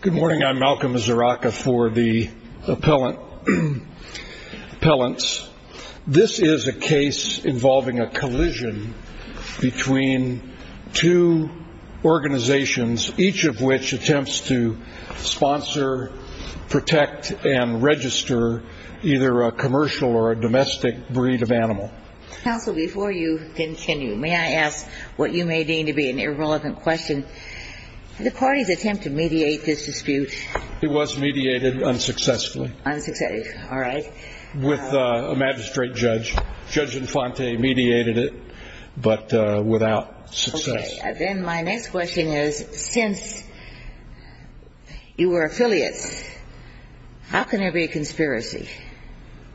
Good morning, I'm Malcolm Zaraka for the Appellants. This is a case involving a collision between two organizations, each of which attempts to sponsor, protect, and register either a commercial or a domestic breed of animal. Counsel, before you continue, may I ask what you may deem to be an irrelevant question? Did the parties attempt to mediate this dispute? It was mediated unsuccessfully. Unsuccessfully, all right. With a magistrate judge. Judge Infante mediated it, but without success. Okay, then my next question is, since you were affiliates, how can there be a conspiracy?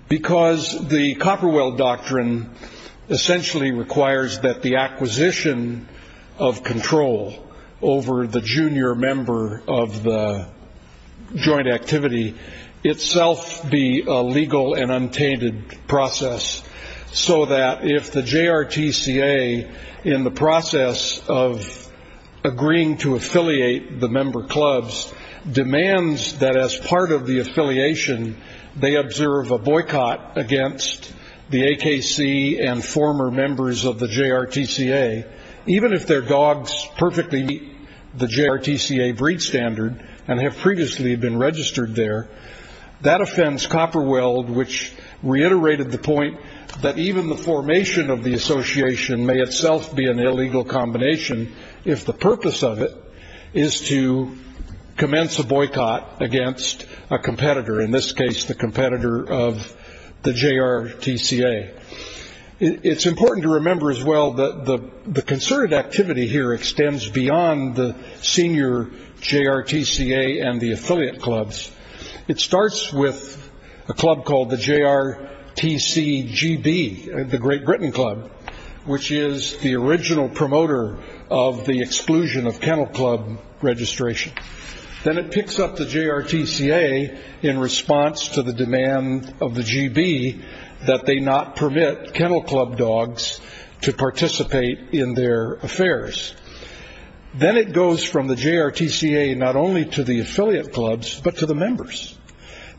Because the Copperwell Doctrine essentially requires that the acquisition of control over the junior member of the joint activity itself be a legal and untainted process, so that if the JRTCA, in the process of agreeing to affiliate the member clubs, demands that as part of the affiliation, they observe a boycott against the AKC and former members of the JRTCA, even if their dogs perfectly meet the JRTCA breed standard and have previously been registered there, that offends Copperweld, which reiterated the point that even the formation of the association may itself be an illegal combination, if the purpose of it is to commence a boycott against a competitor, in this case the competitor of the JRTCA. It's important to remember as well that the concerted activity here extends beyond the senior JRTCA and the affiliate clubs. It starts with a club called the JRTCGB, the Great Britain Club, which is the original promoter of the exclusion of kennel club registration. Then it picks up the JRTCA in response to the demand of the GB that they not permit kennel club dogs to participate in their affairs. Then it goes from the JRTCA not only to the affiliate clubs, but to the members,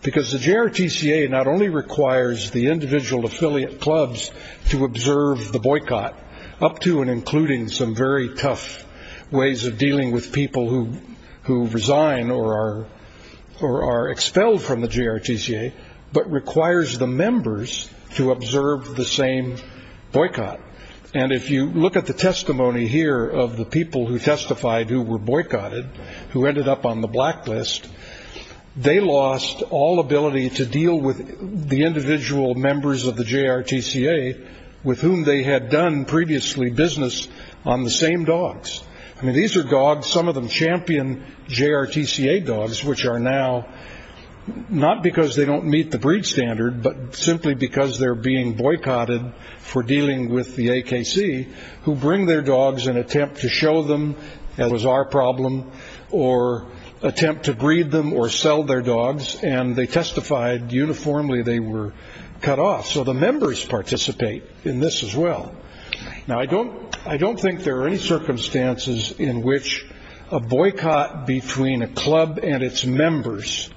because the JRTCA not only requires the individual affiliate clubs to observe the boycott, up to and including some very tough ways of dealing with people who resign or are expelled from the JRTCA, but requires the members to observe the same boycott. If you look at the testimony here of the people who testified who were boycotted, who ended up on the blacklist, they lost all ability to deal with the individual members of the JRTCA with whom they had done previously business on the same dogs. These are dogs, some of them champion JRTCA dogs, which are now, not because they don't meet the breed standard, but simply because they're being boycotted for dealing with the AKC, who bring their dogs and attempt to show them that it was our problem, or attempt to breed them or sell their dogs. They testified uniformly they were cut off, so the members participate in this as well. Now, I don't think there are any circumstances in which a boycott between a club and its members,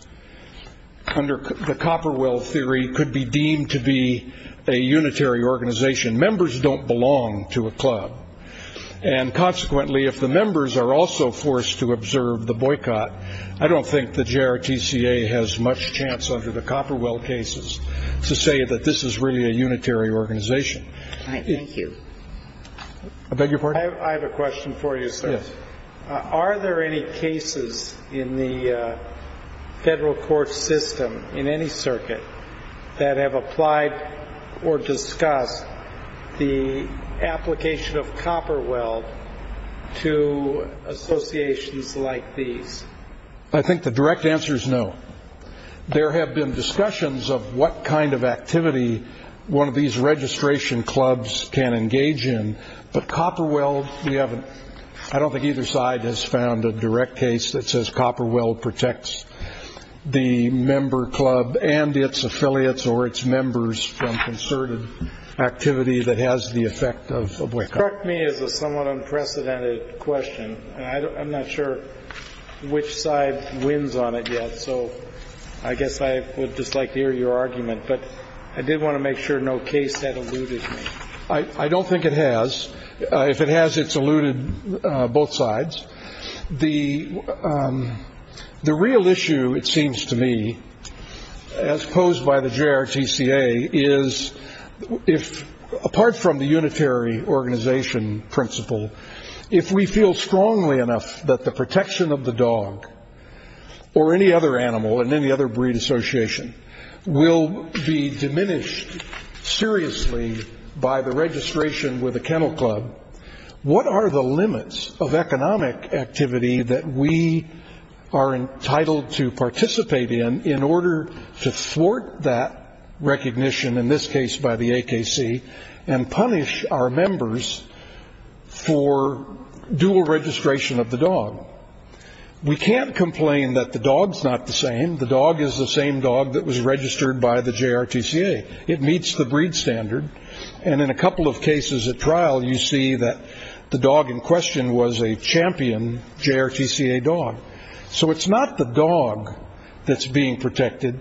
under the Copperwell theory, could be deemed to be a unitary organization. Members don't belong to a club, and consequently, if the members are also forced to observe the boycott, I don't think the JRTCA has much chance under the Copperwell cases to say that this is really a unitary organization. Thank you. I beg your pardon? I have a question for you, sir. Yes. Are there any cases in the federal court system, in any circuit, that have applied or discussed the application of Copperwell to associations like these? I think the direct answer is no. There have been discussions of what kind of activity one of these registration clubs can engage in, but Copperwell, I don't think either side has found a direct case that says Copperwell protects the member club and its affiliates or its members from concerted activity that has the effect of a boycott. That struck me as a somewhat unprecedented question, and I'm not sure which side wins on it yet, so I guess I would just like to hear your argument, but I did want to make sure no case had eluded me. I don't think it has. If it has, it's eluded both sides. The real issue, it seems to me, as posed by the JRTCA, is, apart from the unitary organization principle, if we feel strongly enough that the protection of the dog or any other animal in any other breed association will be diminished seriously by the registration with a kennel club, what are the limits of economic activity that we are entitled to participate in in order to thwart that recognition, in this case by the AKC, and punish our members for dual registration of the dog? We can't complain that the dog's not the same. The dog is the same dog that was registered by the JRTCA. It meets the breed standard, and in a couple of cases at trial, you see that the dog in question was a champion JRTCA dog. So it's not the dog that's being protected.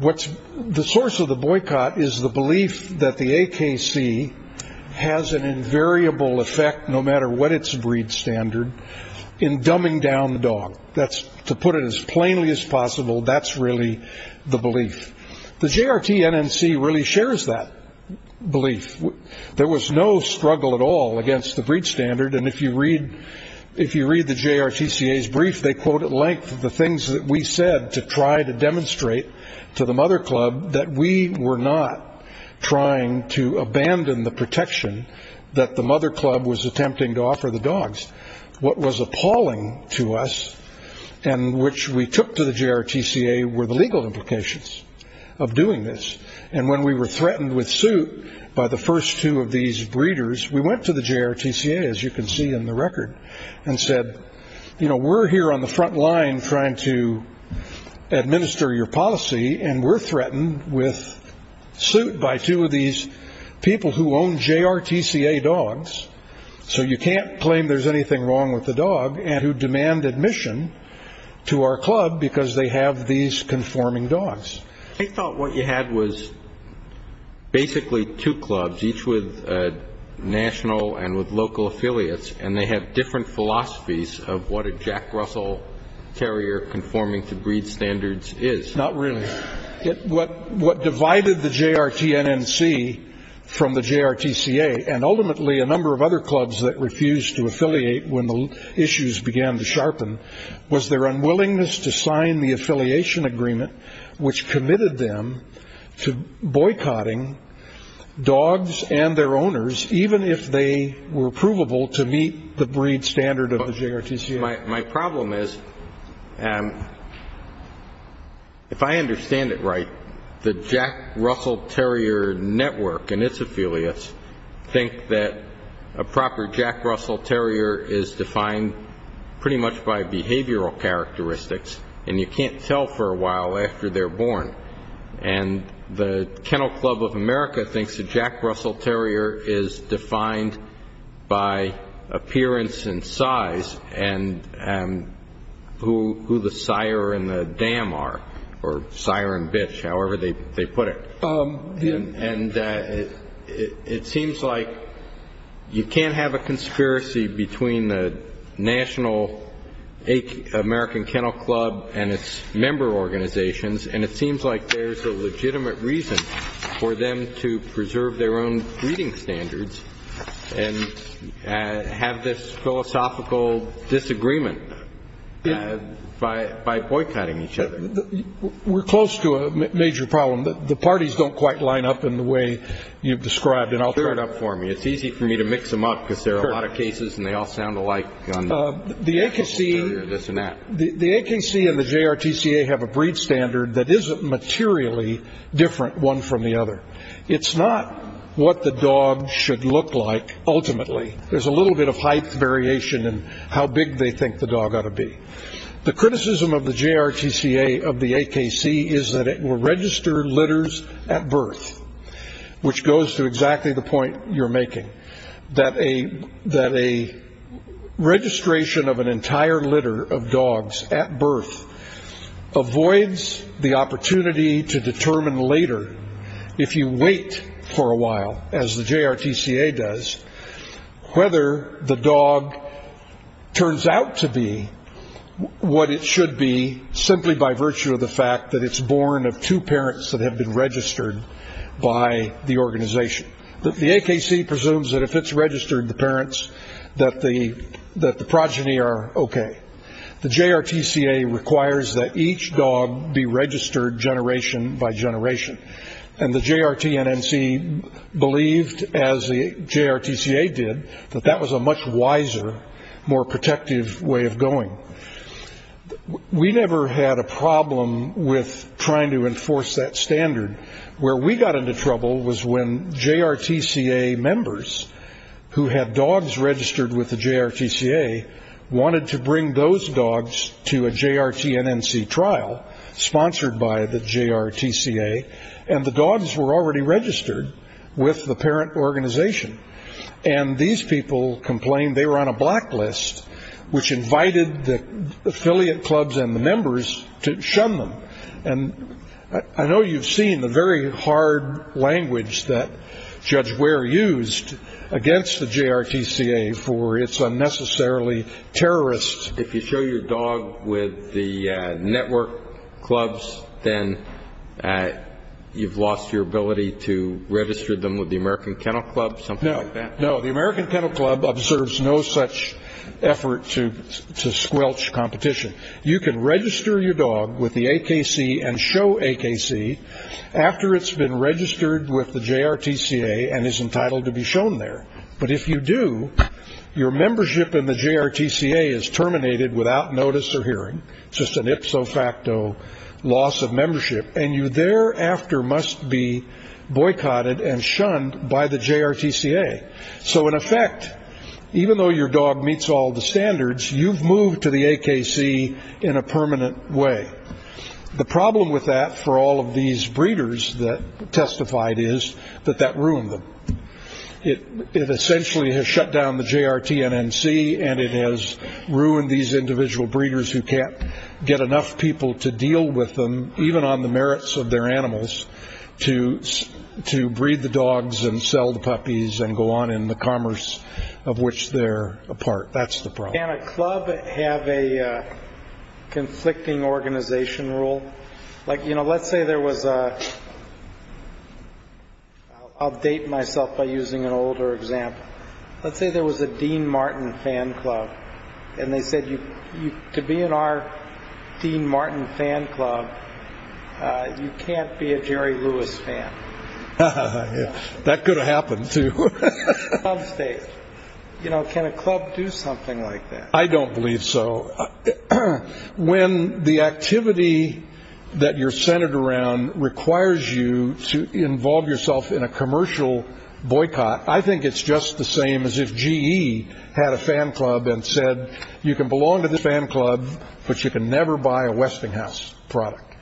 The source of the boycott is the belief that the AKC has an invariable effect, no matter what its breed standard, in dumbing down the dog. To put it as plainly as possible, that's really the belief. The JRTNNC really shares that belief. There was no struggle at all against the breed standard, and if you read the JRTCA's brief, they quote at length the things that we said to try to demonstrate to the mother club that we were not trying to abandon the protection that the mother club was attempting to offer the dogs. What was appalling to us, and which we took to the JRTCA, were the legal implications of doing this. And when we were threatened with suit by the first two of these breeders, we went to the JRTCA, as you can see in the record, and said, you know, we're here on the front line trying to administer your policy, and we're threatened with suit by two of these people who own JRTCA dogs, so you can't claim there's anything wrong with the dog, and who demand admission to our club because they have these conforming dogs. They thought what you had was basically two clubs, each with national and with local affiliates, and they had different philosophies of what a Jack Russell terrier conforming to breed standards is. Not really. What divided the JRTNNC from the JRTCA, and ultimately a number of other clubs that refused to affiliate when the issues began to sharpen, was their unwillingness to sign the affiliation agreement, which committed them to boycotting dogs and their owners, even if they were provable to meet the breed standard of the JRTCA. My problem is, if I understand it right, the Jack Russell terrier network and its affiliates think that a proper Jack Russell terrier is defined pretty much by behavioral characteristics, and you can't tell for a while after they're born. And the Kennel Club of America thinks a Jack Russell terrier is defined by appearance and size, and who the sire and the dam are, or sire and bitch, however they put it. And it seems like you can't have a conspiracy between the national American Kennel Club and its member organizations, and it seems like there's a legitimate reason for them to preserve their own breeding standards and have this philosophical disagreement by boycotting each other. We're close to a major problem. The parties don't quite line up in the way you've described, and I'll clear it up for me. It's easy for me to mix them up because there are a lot of cases and they all sound alike. The AKC and the JRTCA have a breed standard that isn't materially different one from the other. It's not what the dog should look like ultimately. There's a little bit of height variation in how big they think the dog ought to be. The criticism of the JRTCA of the AKC is that it will register litters at birth, which goes to exactly the point you're making, that a registration of an entire litter of dogs at birth avoids the opportunity to determine later, if you wait for a while, as the JRTCA does, whether the dog turns out to be what it should be simply by virtue of the fact that it's born of two parents that have been registered by the organization. The AKC presumes that if it's registered, the parents, that the progeny are okay. The JRTCA requires that each dog be registered generation by generation, and the JRTNNC believed, as the JRTCA did, that that was a much wiser, more protective way of going. We never had a problem with trying to enforce that standard. Where we got into trouble was when JRTCA members who had dogs registered with the JRTCA wanted to bring those dogs to a JRTNNC trial sponsored by the JRTCA, and the dogs were already registered with the parent organization. And these people complained they were on a blacklist, which invited the affiliate clubs and the members to shun them. And I know you've seen the very hard language that Judge Ware used against the JRTCA for it's unnecessarily terrorist. If you show your dog with the network clubs, then you've lost your ability to register them with the American Kennel Club, something like that? No, the American Kennel Club observes no such effort to squelch competition. You can register your dog with the AKC and show AKC after it's been registered with the JRTCA and is entitled to be shown there. But if you do, your membership in the JRTCA is terminated without notice or hearing. It's just an ipso facto loss of membership. And you thereafter must be boycotted and shunned by the JRTCA. So in effect, even though your dog meets all the standards, you've moved to the AKC in a permanent way. The problem with that for all of these breeders that testified is that that ruined them. It essentially has shut down the JRTNNC, and it has ruined these individual breeders who can't get enough people to deal with them, even on the merits of their animals, to breed the dogs and sell the puppies and go on in the commerce of which they're a part. That's the problem. Can a club have a conflicting organization rule? Let's say there was a, I'll date myself by using an older example. Let's say there was a Dean Martin fan club, and they said to be in our Dean Martin fan club, you can't be a Jerry Lewis fan. That could have happened, too. Can a club do something like that? I don't believe so. When the activity that you're centered around requires you to involve yourself in a commercial boycott, I think it's just the same as if GE had a fan club and said, you can belong to this fan club, but you can never buy a Westinghouse product.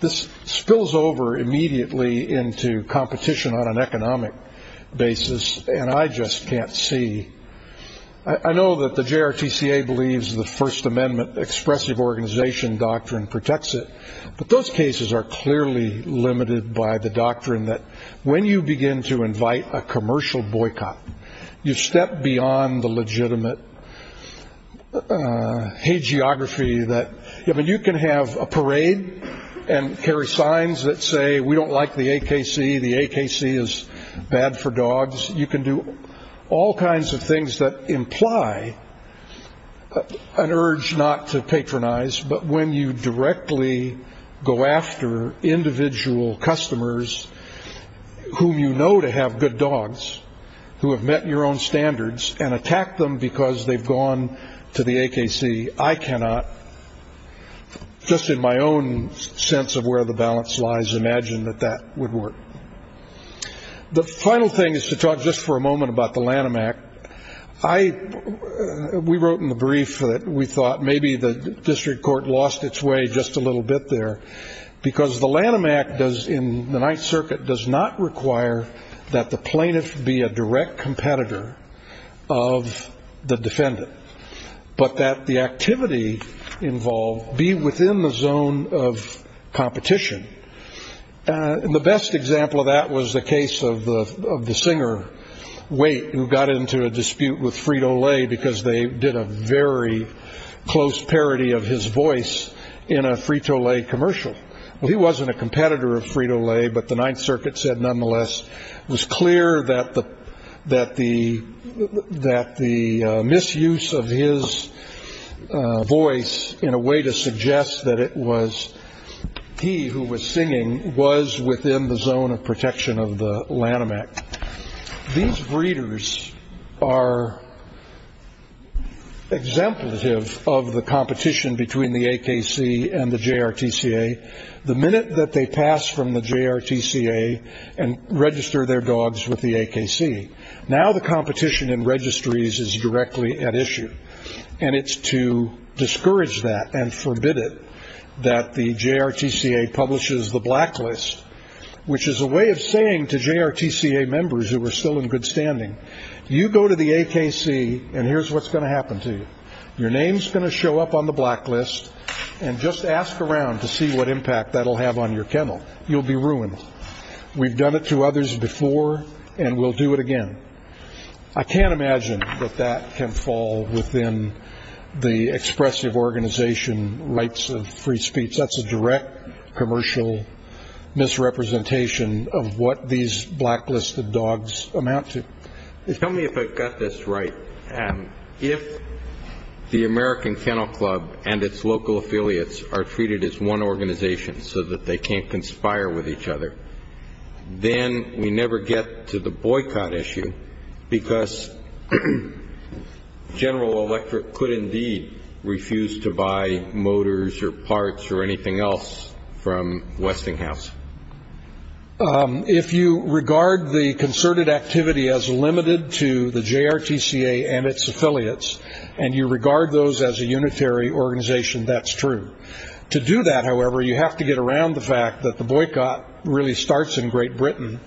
This spills over immediately into competition on an economic basis, and I just can't see. I know that the JRTCA believes the First Amendment expressive organization doctrine protects it, but those cases are clearly limited by the doctrine that when you begin to invite a commercial boycott, you step beyond the legitimate hagiography that you can have a parade and carry signs that say, we don't like the AKC, the AKC is bad for dogs. You can do all kinds of things that imply an urge not to patronize, but when you directly go after individual customers whom you know to have good dogs, who have met your own standards, and attack them because they've gone to the AKC, I cannot, just in my own sense of where the balance lies, imagine that that would work. The final thing is to talk just for a moment about the Lanham Act. We wrote in the brief that we thought maybe the district court lost its way just a little bit there, because the Lanham Act in the Ninth Circuit does not require that the plaintiff be a direct competitor of the defendant, but that the activity involved be within the zone of competition. And the best example of that was the case of the singer, Wait, who got into a dispute with Frito-Lay because they did a very close parody of his voice in a Frito-Lay commercial. Well, he wasn't a competitor of Frito-Lay, but the Ninth Circuit said, nonetheless, it was clear that the misuse of his voice in a way to suggest that it was he who was singing was within the zone of protection of the Lanham Act. These breeders are exemplative of the competition between the AKC and the JRTCA. The minute that they pass from the JRTCA and register their dogs with the AKC, now the competition in registries is directly at issue, and it's to discourage that and forbid it that the JRTCA publishes the blacklist, which is a way of saying to JRTCA members who are still in good standing, you go to the AKC and here's what's going to happen to you. Your name's going to show up on the blacklist, and just ask around to see what impact that'll have on your kennel. You'll be ruined. We've done it to others before, and we'll do it again. I can't imagine that that can fall within the expressive organization rights of free speech. That's a direct commercial misrepresentation of what these blacklisted dogs amount to. Tell me if I've got this right. If the American Kennel Club and its local affiliates are treated as one organization so that they can't conspire with each other, then we never get to the boycott issue, because General Electric could indeed refuse to buy motors or parts or anything else from Westinghouse. If you regard the concerted activity as limited to the JRTCA and its affiliates, and you regard those as a unitary organization, that's true. To do that, however, you have to get around the fact that the boycott really starts in Great Britain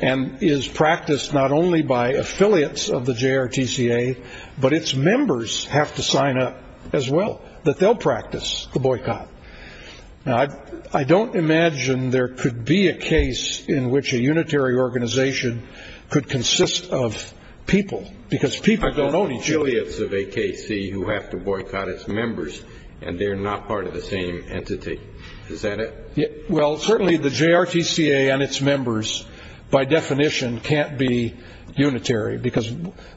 and is practiced not only by affiliates of the JRTCA, but its members have to sign up as well, that they'll practice the boycott. Now, I don't imagine there could be a case in which a unitary organization could consist of people, because people don't own each other. I've got affiliates of AKC who have to boycott its members, and they're not part of the same entity. Is that it? Well, certainly the JRTCA and its members, by definition, can't be unitary, because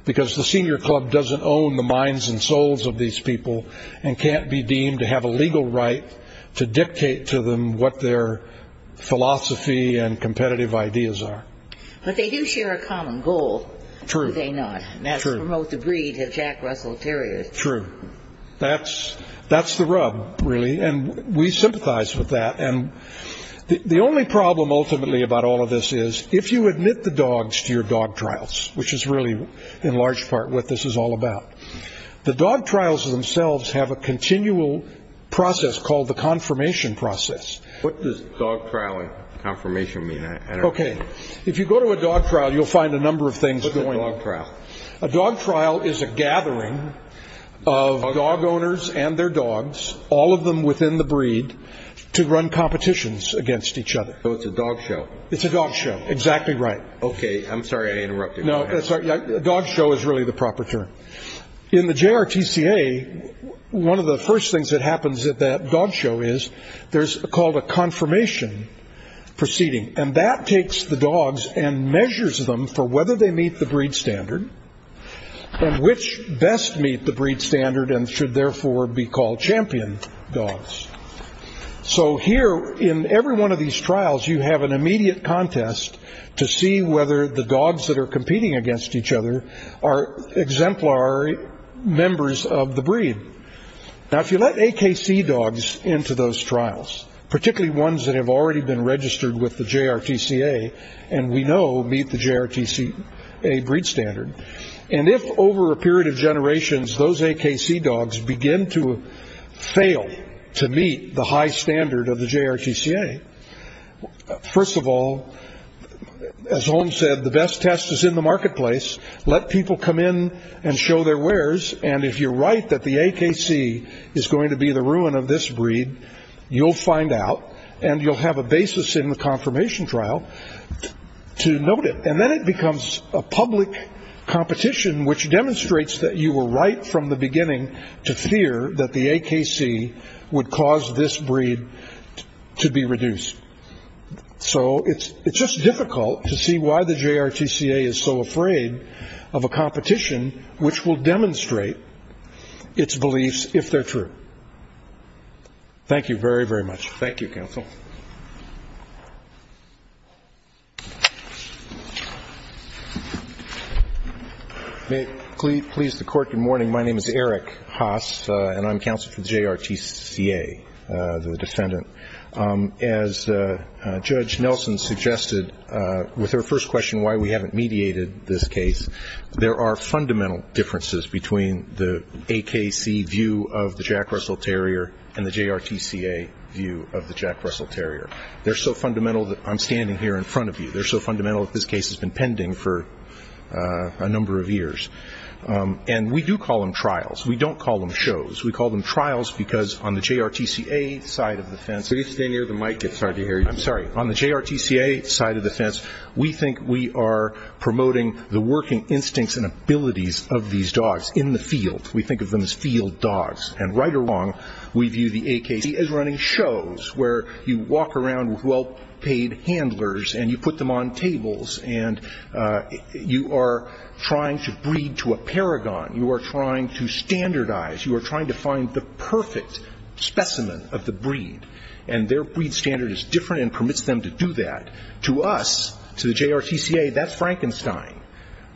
the senior club doesn't own the minds and souls of these people and can't be deemed to have a legal right to dictate to them what their philosophy and competitive ideas are. But they do share a common goal, do they not? True. And that's promote the breed of Jack Russell Terriers. True. That's the rub, really, and we sympathize with that. And the only problem, ultimately, about all of this is if you admit the dogs to your dog trials, which is really, in large part, what this is all about, the dog trials themselves have a continual process called the confirmation process. What does dog trial and confirmation mean? Okay. If you go to a dog trial, you'll find a number of things going on. What's a dog trial? A dog trial is a gathering of dog owners and their dogs, all of them within the breed, to run competitions against each other. So it's a dog show. It's a dog show. Exactly right. Okay. I'm sorry I interrupted. Dog show is really the proper term. In the JRTCA, one of the first things that happens at that dog show is there's called a confirmation proceeding, and that takes the dogs and measures them for whether they meet the breed standard and which best meet the breed standard and should, therefore, be called champion dogs. So here, in every one of these trials, you have an immediate contest to see whether the dogs that are competing against each other are exemplary members of the breed. Now, if you let AKC dogs into those trials, particularly ones that have already been registered with the JRTCA and we know meet the JRTCA breed standard, and if over a period of generations those AKC dogs begin to fail to meet the high standard of the JRTCA, first of all, as Holmes said, the best test is in the marketplace. Let people come in and show their wares, and if you're right that the AKC is going to be the ruin of this breed, you'll find out, and you'll have a basis in the confirmation trial to note it. And then it becomes a public competition, which demonstrates that you were right from the beginning to fear that the AKC would cause this breed to be reduced. So it's just difficult to see why the JRTCA is so afraid of a competition which will demonstrate its beliefs if they're true. Thank you very, very much. Thank you, counsel. May it please the Court, good morning. My name is Eric Haas, and I'm counsel for the JRTCA, the defendant. As Judge Nelson suggested with her first question, why we haven't mediated this case, there are fundamental differences between the AKC view of the Jack Russell Terrier and the JRTCA view of the Jack Russell Terrier. They're so fundamental that I'm standing here in front of you. They're so fundamental that this case has been pending for a number of years. And we do call them trials. We don't call them shows. We call them trials because on the JRTCA side of the fence we think we are promoting the working instincts and abilities of these dogs in the field. We think of them as field dogs. And right or wrong, we view the AKC as running shows where you walk around with well-paid handlers and you put them on tables and you are trying to breed to a paragon. You are trying to standardize. You are trying to find the perfect specimen of the breed. And their breed standard is different and permits them to do that. To us, to the JRTCA, that's Frankenstein.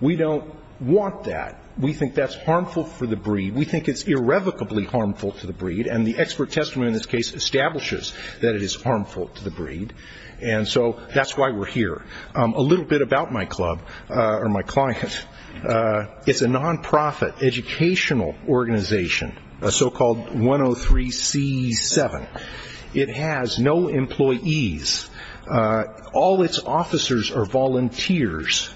We don't want that. We think that's harmful for the breed. We think it's irrevocably harmful to the breed. And the expert testimony in this case establishes that it is harmful to the breed. And so that's why we're here. A little bit about my club or my client. It's a nonprofit educational organization, a so-called 103C7. It has no employees. All its officers are volunteers.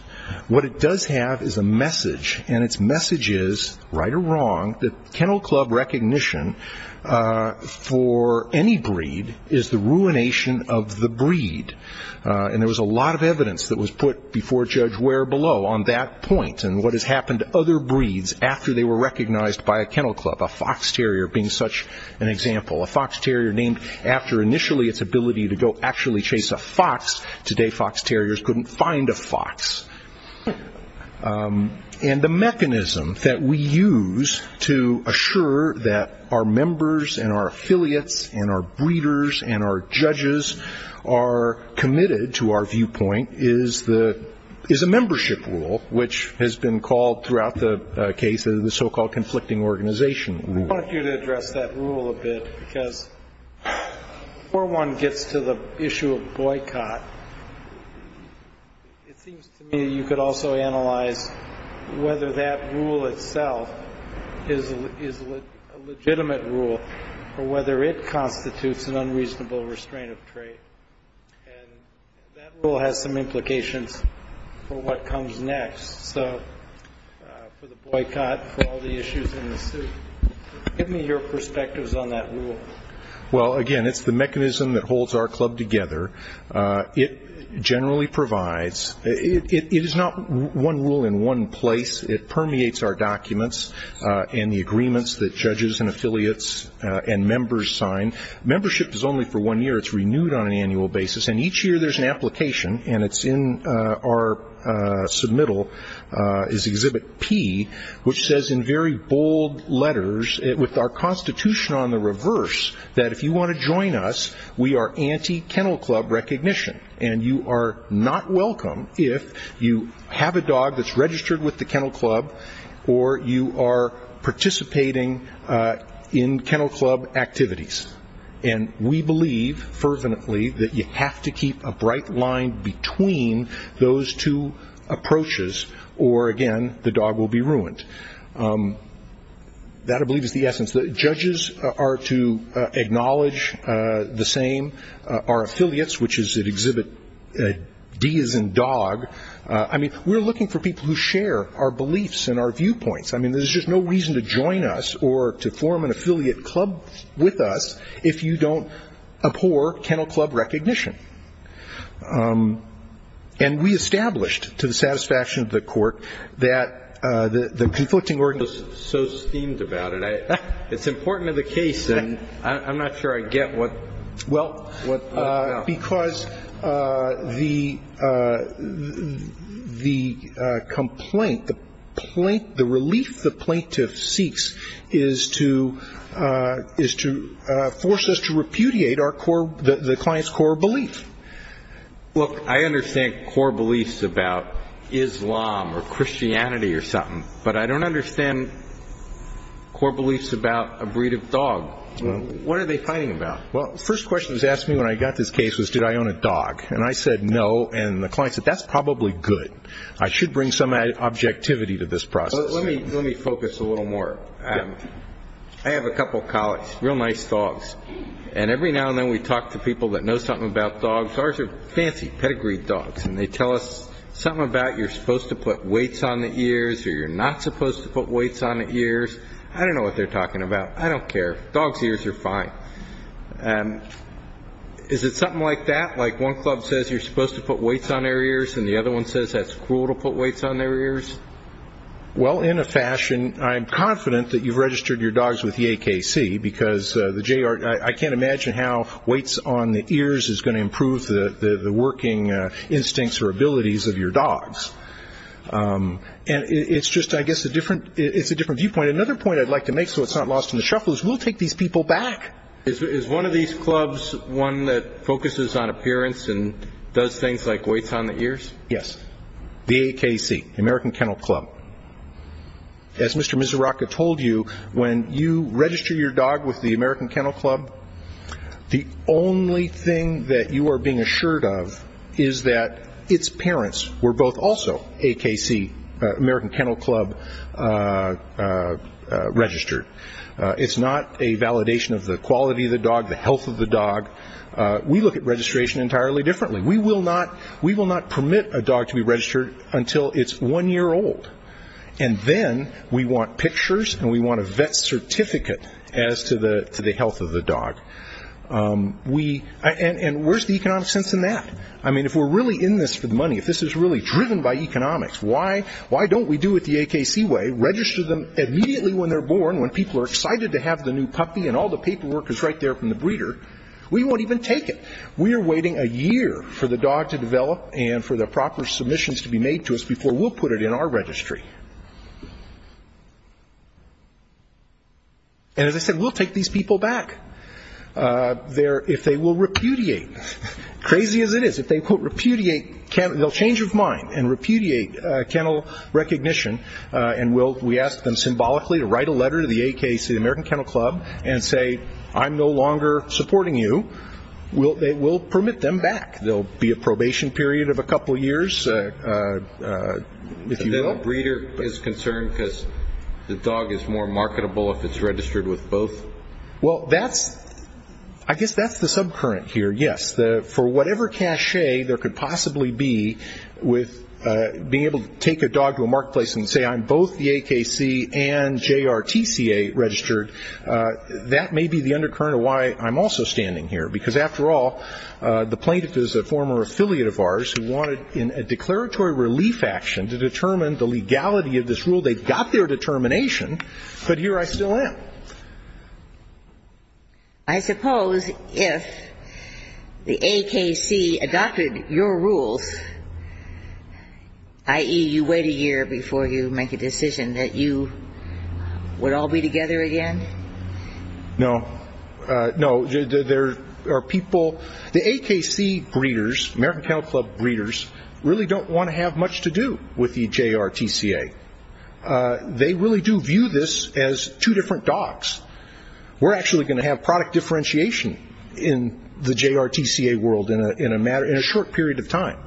What it does have is a message, and its message is, right or wrong, that kennel club recognition for any breed is the ruination of the breed. And there was a lot of evidence that was put before Judge Ware below on that point and what has happened to other breeds after they were recognized by a kennel club, a fox terrier being such an example. A fox terrier named after initially its ability to go actually chase a fox. Today fox terriers couldn't find a fox. And the mechanism that we use to assure that our members and our affiliates and our breeders and our judges are committed to our viewpoint is a membership rule, which has been called throughout the case the so-called conflicting organization rule. I wanted you to address that rule a bit because before one gets to the issue of boycott, it seems to me you could also analyze whether that rule itself is a legitimate rule or whether it constitutes an unreasonable restraint of trade. And that rule has some implications for what comes next. So for the boycott, for all the issues in the suit, give me your perspectives on that rule. Well, again, it's the mechanism that holds our club together. It generally provides. It is not one rule in one place. It permeates our documents and the agreements that judges and affiliates and members sign. Membership is only for one year. It's renewed on an annual basis. And each year there's an application, and it's in our submittal, is Exhibit P, which says in very bold letters, with our constitution on the reverse, that if you want to join us, we are anti-kennel club recognition. And you are not welcome if you have a dog that's registered with the kennel club or you are participating in kennel club activities. And we believe fervently that you have to keep a bright line between those two approaches or, again, the dog will be ruined. That, I believe, is the essence. Judges are to acknowledge the same. Our affiliates, which is at Exhibit D as in dog, I mean, we're looking for people who share our beliefs and our viewpoints. I mean, there's just no reason to join us or to form an affiliate club with us if you don't abhor kennel club recognition. And we established, to the satisfaction of the Court, that the conflicting organizations. So steamed about it. It's important to the case, and I'm not sure I get what. Well, because the complaint, the relief the plaintiff seeks is to force us to repudiate the client's core belief. Look, I understand core beliefs about Islam or Christianity or something, but I don't understand core beliefs about a breed of dog. What are they fighting about? Well, the first question that was asked me when I got this case was, did I own a dog? And I said no, and the client said, that's probably good. I should bring some objectivity to this process. Let me focus a little more. I have a couple of colleagues, real nice dogs, and every now and then we talk to people that know something about dogs. Ours are fancy, pedigreed dogs, and they tell us something about you're supposed to put weights on the ears or you're not supposed to put weights on the ears. I don't know what they're talking about. I don't care. Dogs' ears are fine. Is it something like that, like one club says you're supposed to put weights on their ears and the other one says that's cruel to put weights on their ears? Well, in a fashion, I'm confident that you've registered your dogs with the AKC, because I can't imagine how weights on the ears is going to improve the working instincts or abilities of your dogs. It's just, I guess, a different viewpoint. And another point I'd like to make so it's not lost in the shuffle is we'll take these people back. Is one of these clubs one that focuses on appearance and does things like weights on the ears? Yes. The AKC, the American Kennel Club. As Mr. Misuraka told you, when you register your dog with the American Kennel Club, the only thing that you are being assured of is that its parents were both also AKC, American Kennel Club, registered. It's not a validation of the quality of the dog, the health of the dog. We look at registration entirely differently. We will not permit a dog to be registered until it's one year old. And then we want pictures and we want a vet certificate as to the health of the dog. And where's the economic sense in that? I mean, if we're really in this for the money, if this is really driven by economics, why don't we do it the AKC way, register them immediately when they're born, when people are excited to have the new puppy and all the paperwork is right there from the breeder? We won't even take it. We are waiting a year for the dog to develop and for the proper submissions to be made to us before we'll put it in our registry. And as I said, we'll take these people back. If they will repudiate, crazy as it is, if they, quote, repudiate, they'll change of mind and repudiate kennel recognition, and we ask them symbolically to write a letter to the AKC, the American Kennel Club, and say, I'm no longer supporting you, we'll permit them back. There will be a probation period of a couple years, if you will. The breeder is concerned because the dog is more marketable if it's registered with both? Well, I guess that's the subcurrent here, yes. For whatever cachet there could possibly be with being able to take a dog to a marketplace and say I'm both the AKC and JRTCA registered, that may be the undercurrent of why I'm also standing here. Because after all, the plaintiff is a former affiliate of ours who wanted in a declaratory relief action to determine the legality of this rule. They got their determination, but here I still am. I suppose if the AKC adopted your rules, i.e., you wait a year before you make a decision, that you would all be together again? No. No, there are people, the AKC breeders, American Kennel Club breeders, really don't want to have much to do with the JRTCA. They really do view this as two different dogs. We're actually going to have product differentiation in the JRTCA world in a short period of time.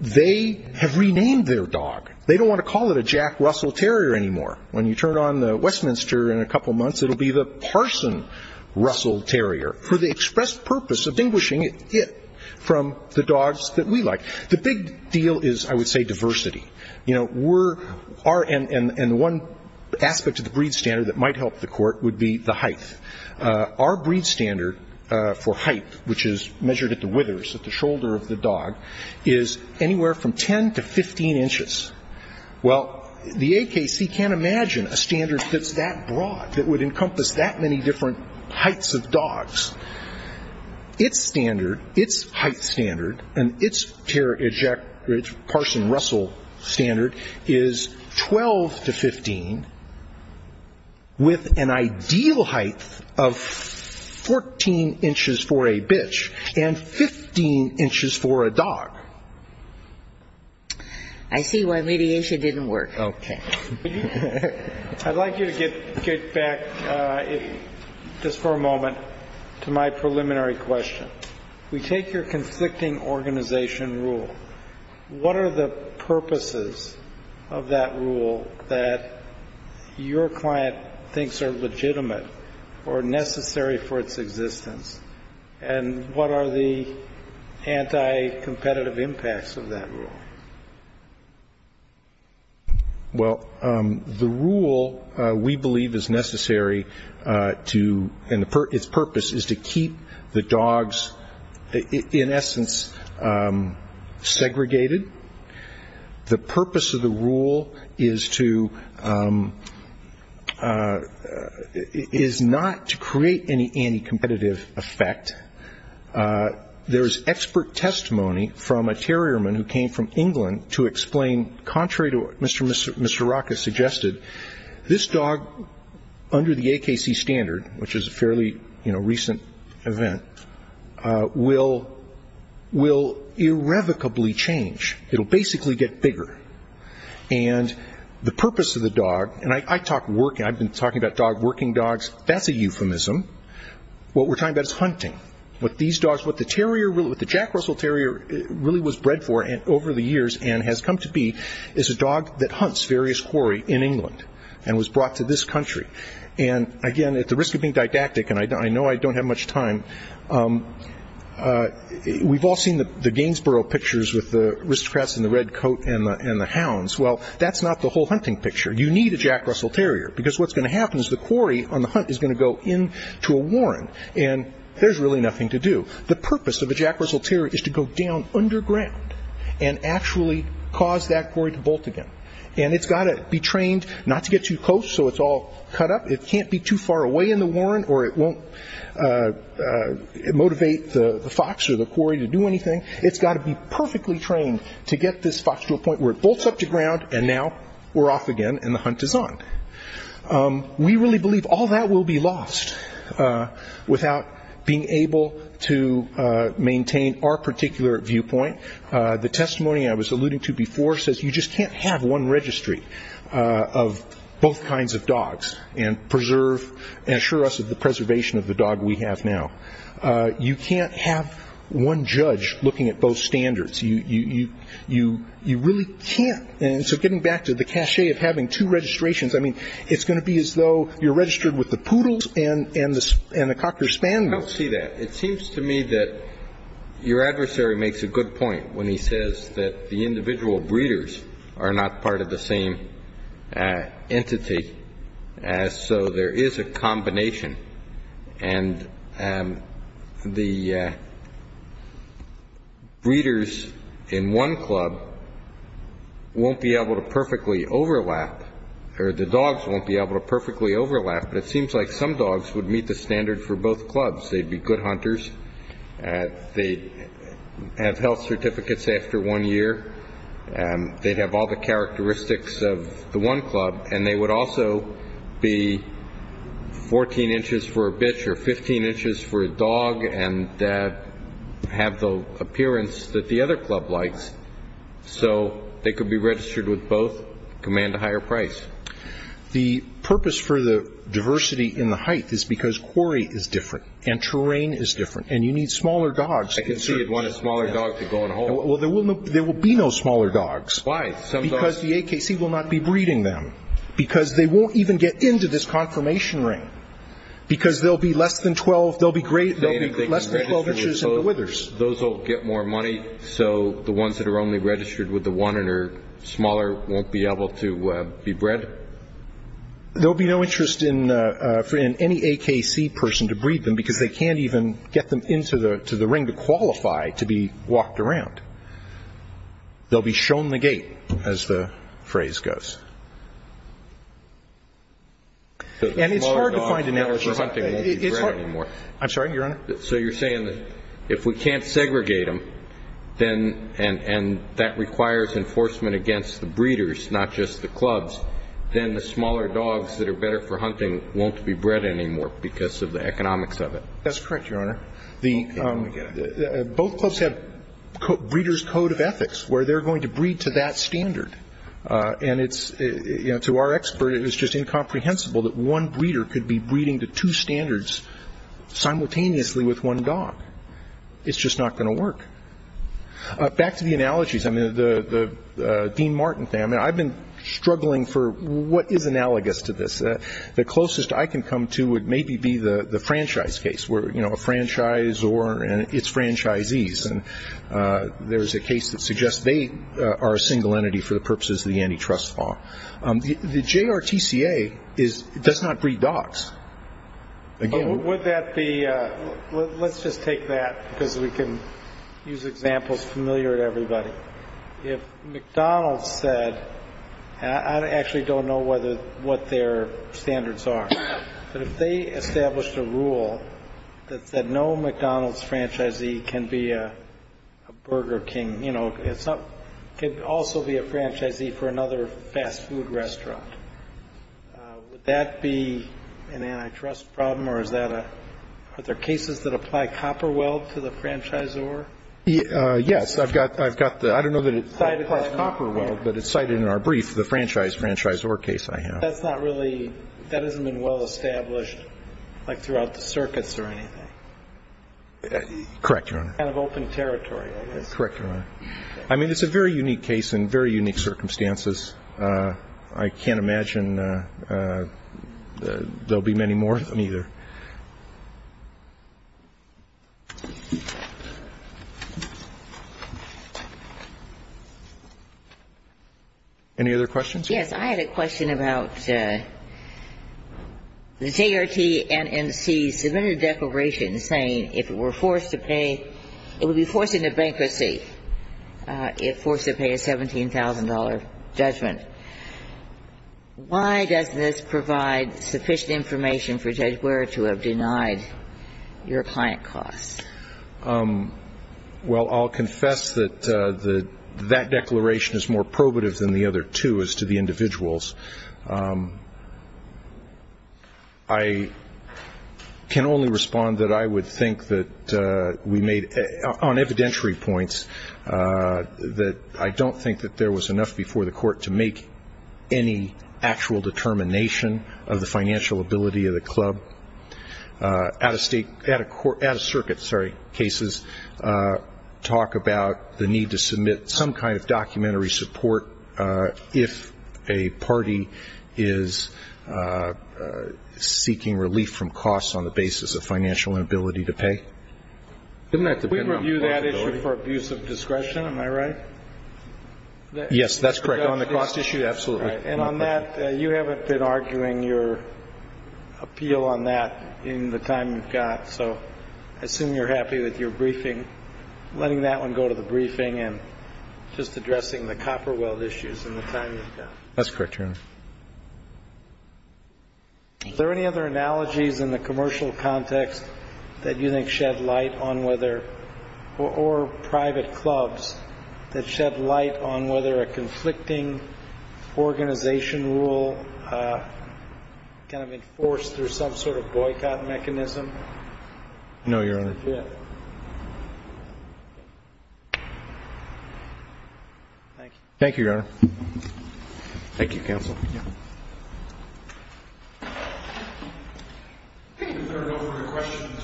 They have renamed their dog. They don't want to call it a Jack Russell Terrier anymore. When you turn on the Westminster in a couple months, it will be the Parson Russell Terrier, for the express purpose of distinguishing it from the dogs that we like. The big deal is, I would say, diversity. And one aspect of the breed standard that might help the court would be the height. Our breed standard for height, which is measured at the withers, at the shoulder of the dog, is anywhere from 10 to 15 inches. Well, the AKC can't imagine a standard that's that broad, that would encompass that many different heights of dogs. Its standard, its height standard, and its Parson Russell standard is 12 to 15, with an ideal height of 14 inches for a bitch and 15 inches for a dog. I see why mediation didn't work. Okay. I'd like you to get back just for a moment to my preliminary question. We take your conflicting organization rule. What are the purposes of that rule that your client thinks are legitimate or necessary for its existence, and what are the anti-competitive impacts of that rule? Well, the rule, we believe, is necessary to, and its purpose is to keep the dogs, in essence, segregated. The purpose of the rule is to, is not to create any anti-competitive effect. There is expert testimony from a terrierman who came from England to explain, contrary to what Mr. Rocca suggested, this dog, under the AKC standard, which is a fairly recent event, will irrevocably change. It will basically get bigger. And the purpose of the dog, and I've been talking about working dogs. That's a euphemism. What we're talking about is hunting. What the Jack Russell Terrier really was bred for over the years and has come to be is a dog that hunts various quarry in England and was brought to this country. And, again, at the risk of being didactic, and I know I don't have much time, we've all seen the Gainsborough pictures with the aristocrats in the red coat and the hounds. Well, that's not the whole hunting picture. You need a Jack Russell Terrier because what's going to happen is the quarry on the hunt is going to go into a warren and there's really nothing to do. The purpose of a Jack Russell Terrier is to go down underground and actually cause that quarry to bolt again. And it's got to be trained not to get too close so it's all cut up. It can't be too far away in the warren or it won't motivate the fox or the quarry to do anything. It's got to be perfectly trained to get this fox to a point where it bolts up to ground and now we're off again and the hunt is on. We really believe all that will be lost without being able to maintain our particular viewpoint. The testimony I was alluding to before says you just can't have one registry of both kinds of dogs and assure us of the preservation of the dog we have now. You can't have one judge looking at both standards. You really can't. And so getting back to the cachet of having two registrations, I mean it's going to be as though you're registered with the poodles and the cocker spandrels. I don't see that. It seems to me that your adversary makes a good point when he says that the individual breeders are not part of the same entity, so there is a combination. And the breeders in one club won't be able to perfectly overlap, or the dogs won't be able to perfectly overlap, but it seems like some dogs would meet the standard for both clubs. They'd be good hunters. They'd have health certificates after one year. They'd have all the characteristics of the one club. And they would also be 14 inches for a bitch or 15 inches for a dog and have the appearance that the other club likes. So they could be registered with both, command a higher price. The purpose for the diversity in the height is because quarry is different and terrain is different and you need smaller dogs. I can see you'd want a smaller dog to go in a hole. Well, there will be no smaller dogs. Why? Because the AKC will not be breeding them, because they won't even get into this confirmation ring, because they'll be less than 12 inches in the withers. Those will get more money, so the ones that are only registered with the one and are smaller won't be able to be bred? There will be no interest in any AKC person to breed them because they can't even get them into the ring to qualify to be walked around. They'll be shown the gate, as the phrase goes. And it's hard to find a network for hunting. I'm sorry, Your Honor? So you're saying that if we can't segregate them and that requires enforcement against the breeders, not just the clubs, then the smaller dogs that are better for hunting won't be bred anymore That's correct, Your Honor. Both clubs have breeders' code of ethics, where they're going to breed to that standard. And to our expert, it was just incomprehensible that one breeder could be breeding to two standards simultaneously with one dog. It's just not going to work. Back to the analogies, the Dean Martin thing. I've been struggling for what is analogous to this. The closest I can come to would maybe be the franchise case, where a franchisor and its franchisees, and there's a case that suggests they are a single entity for the purposes of the antitrust law. The JRTCA does not breed dogs. Let's just take that because we can use examples familiar to everybody. If McDonald's said, and I actually don't know what their standards are, but if they established a rule that said no McDonald's franchisee can be a Burger King, it could also be a franchisee for another fast food restaurant. Would that be an antitrust problem, or are there cases that apply copper weld to the franchisor? Yes. I don't know that it applies copper weld, but it's cited in our brief, the franchise-franchisor case I have. But that's not really, that hasn't been well established like throughout the circuits or anything. Correct, Your Honor. Kind of open territory, I guess. Correct, Your Honor. I mean, it's a very unique case in very unique circumstances. I can't imagine there will be many more of them either. Any other questions? Yes. I had a question about the JRTNMC submitted a declaration saying if it were forced to pay, it would be forced into bankruptcy if forced to pay a $17,000 judgment. Why does this provide sufficient information for Judge Ware to have denied your client costs? Well, I'll confess that that declaration is more probative than the other two as to the individuals. I can only respond that I would think that we made, on evidentiary points, that I don't think that there was enough before the court to make any actual determination of the financial ability of the club. I don't think that the court would have had the capacity to make any determination of that without having to go through a process of out-of-state, out-of-circuit cases, talk about the need to submit some kind of documentary support if a party is seeking relief from costs on the basis of financial inability to pay. We review that issue for abuse of discretion, am I right? Yes, that's correct. On the cost issue, absolutely. And on that, you haven't been arguing your appeal on that in the time you've got. So I assume you're happy with your briefing, letting that one go to the briefing and just addressing the copper weld issues in the time you've got. That's correct, Your Honor. Thank you. Are there any other analogies in the commercial context that you think shed light on whether, or private clubs that shed light on whether a conflicting organization rule can have been forced through some sort of boycott mechanism? No, Your Honor. Okay. Thank you. Thank you, Your Honor. Thank you, counsel. Is there no further questions?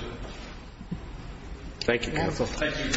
Thank you, counsel. Thank you, Your Honor. Thank you, counsel.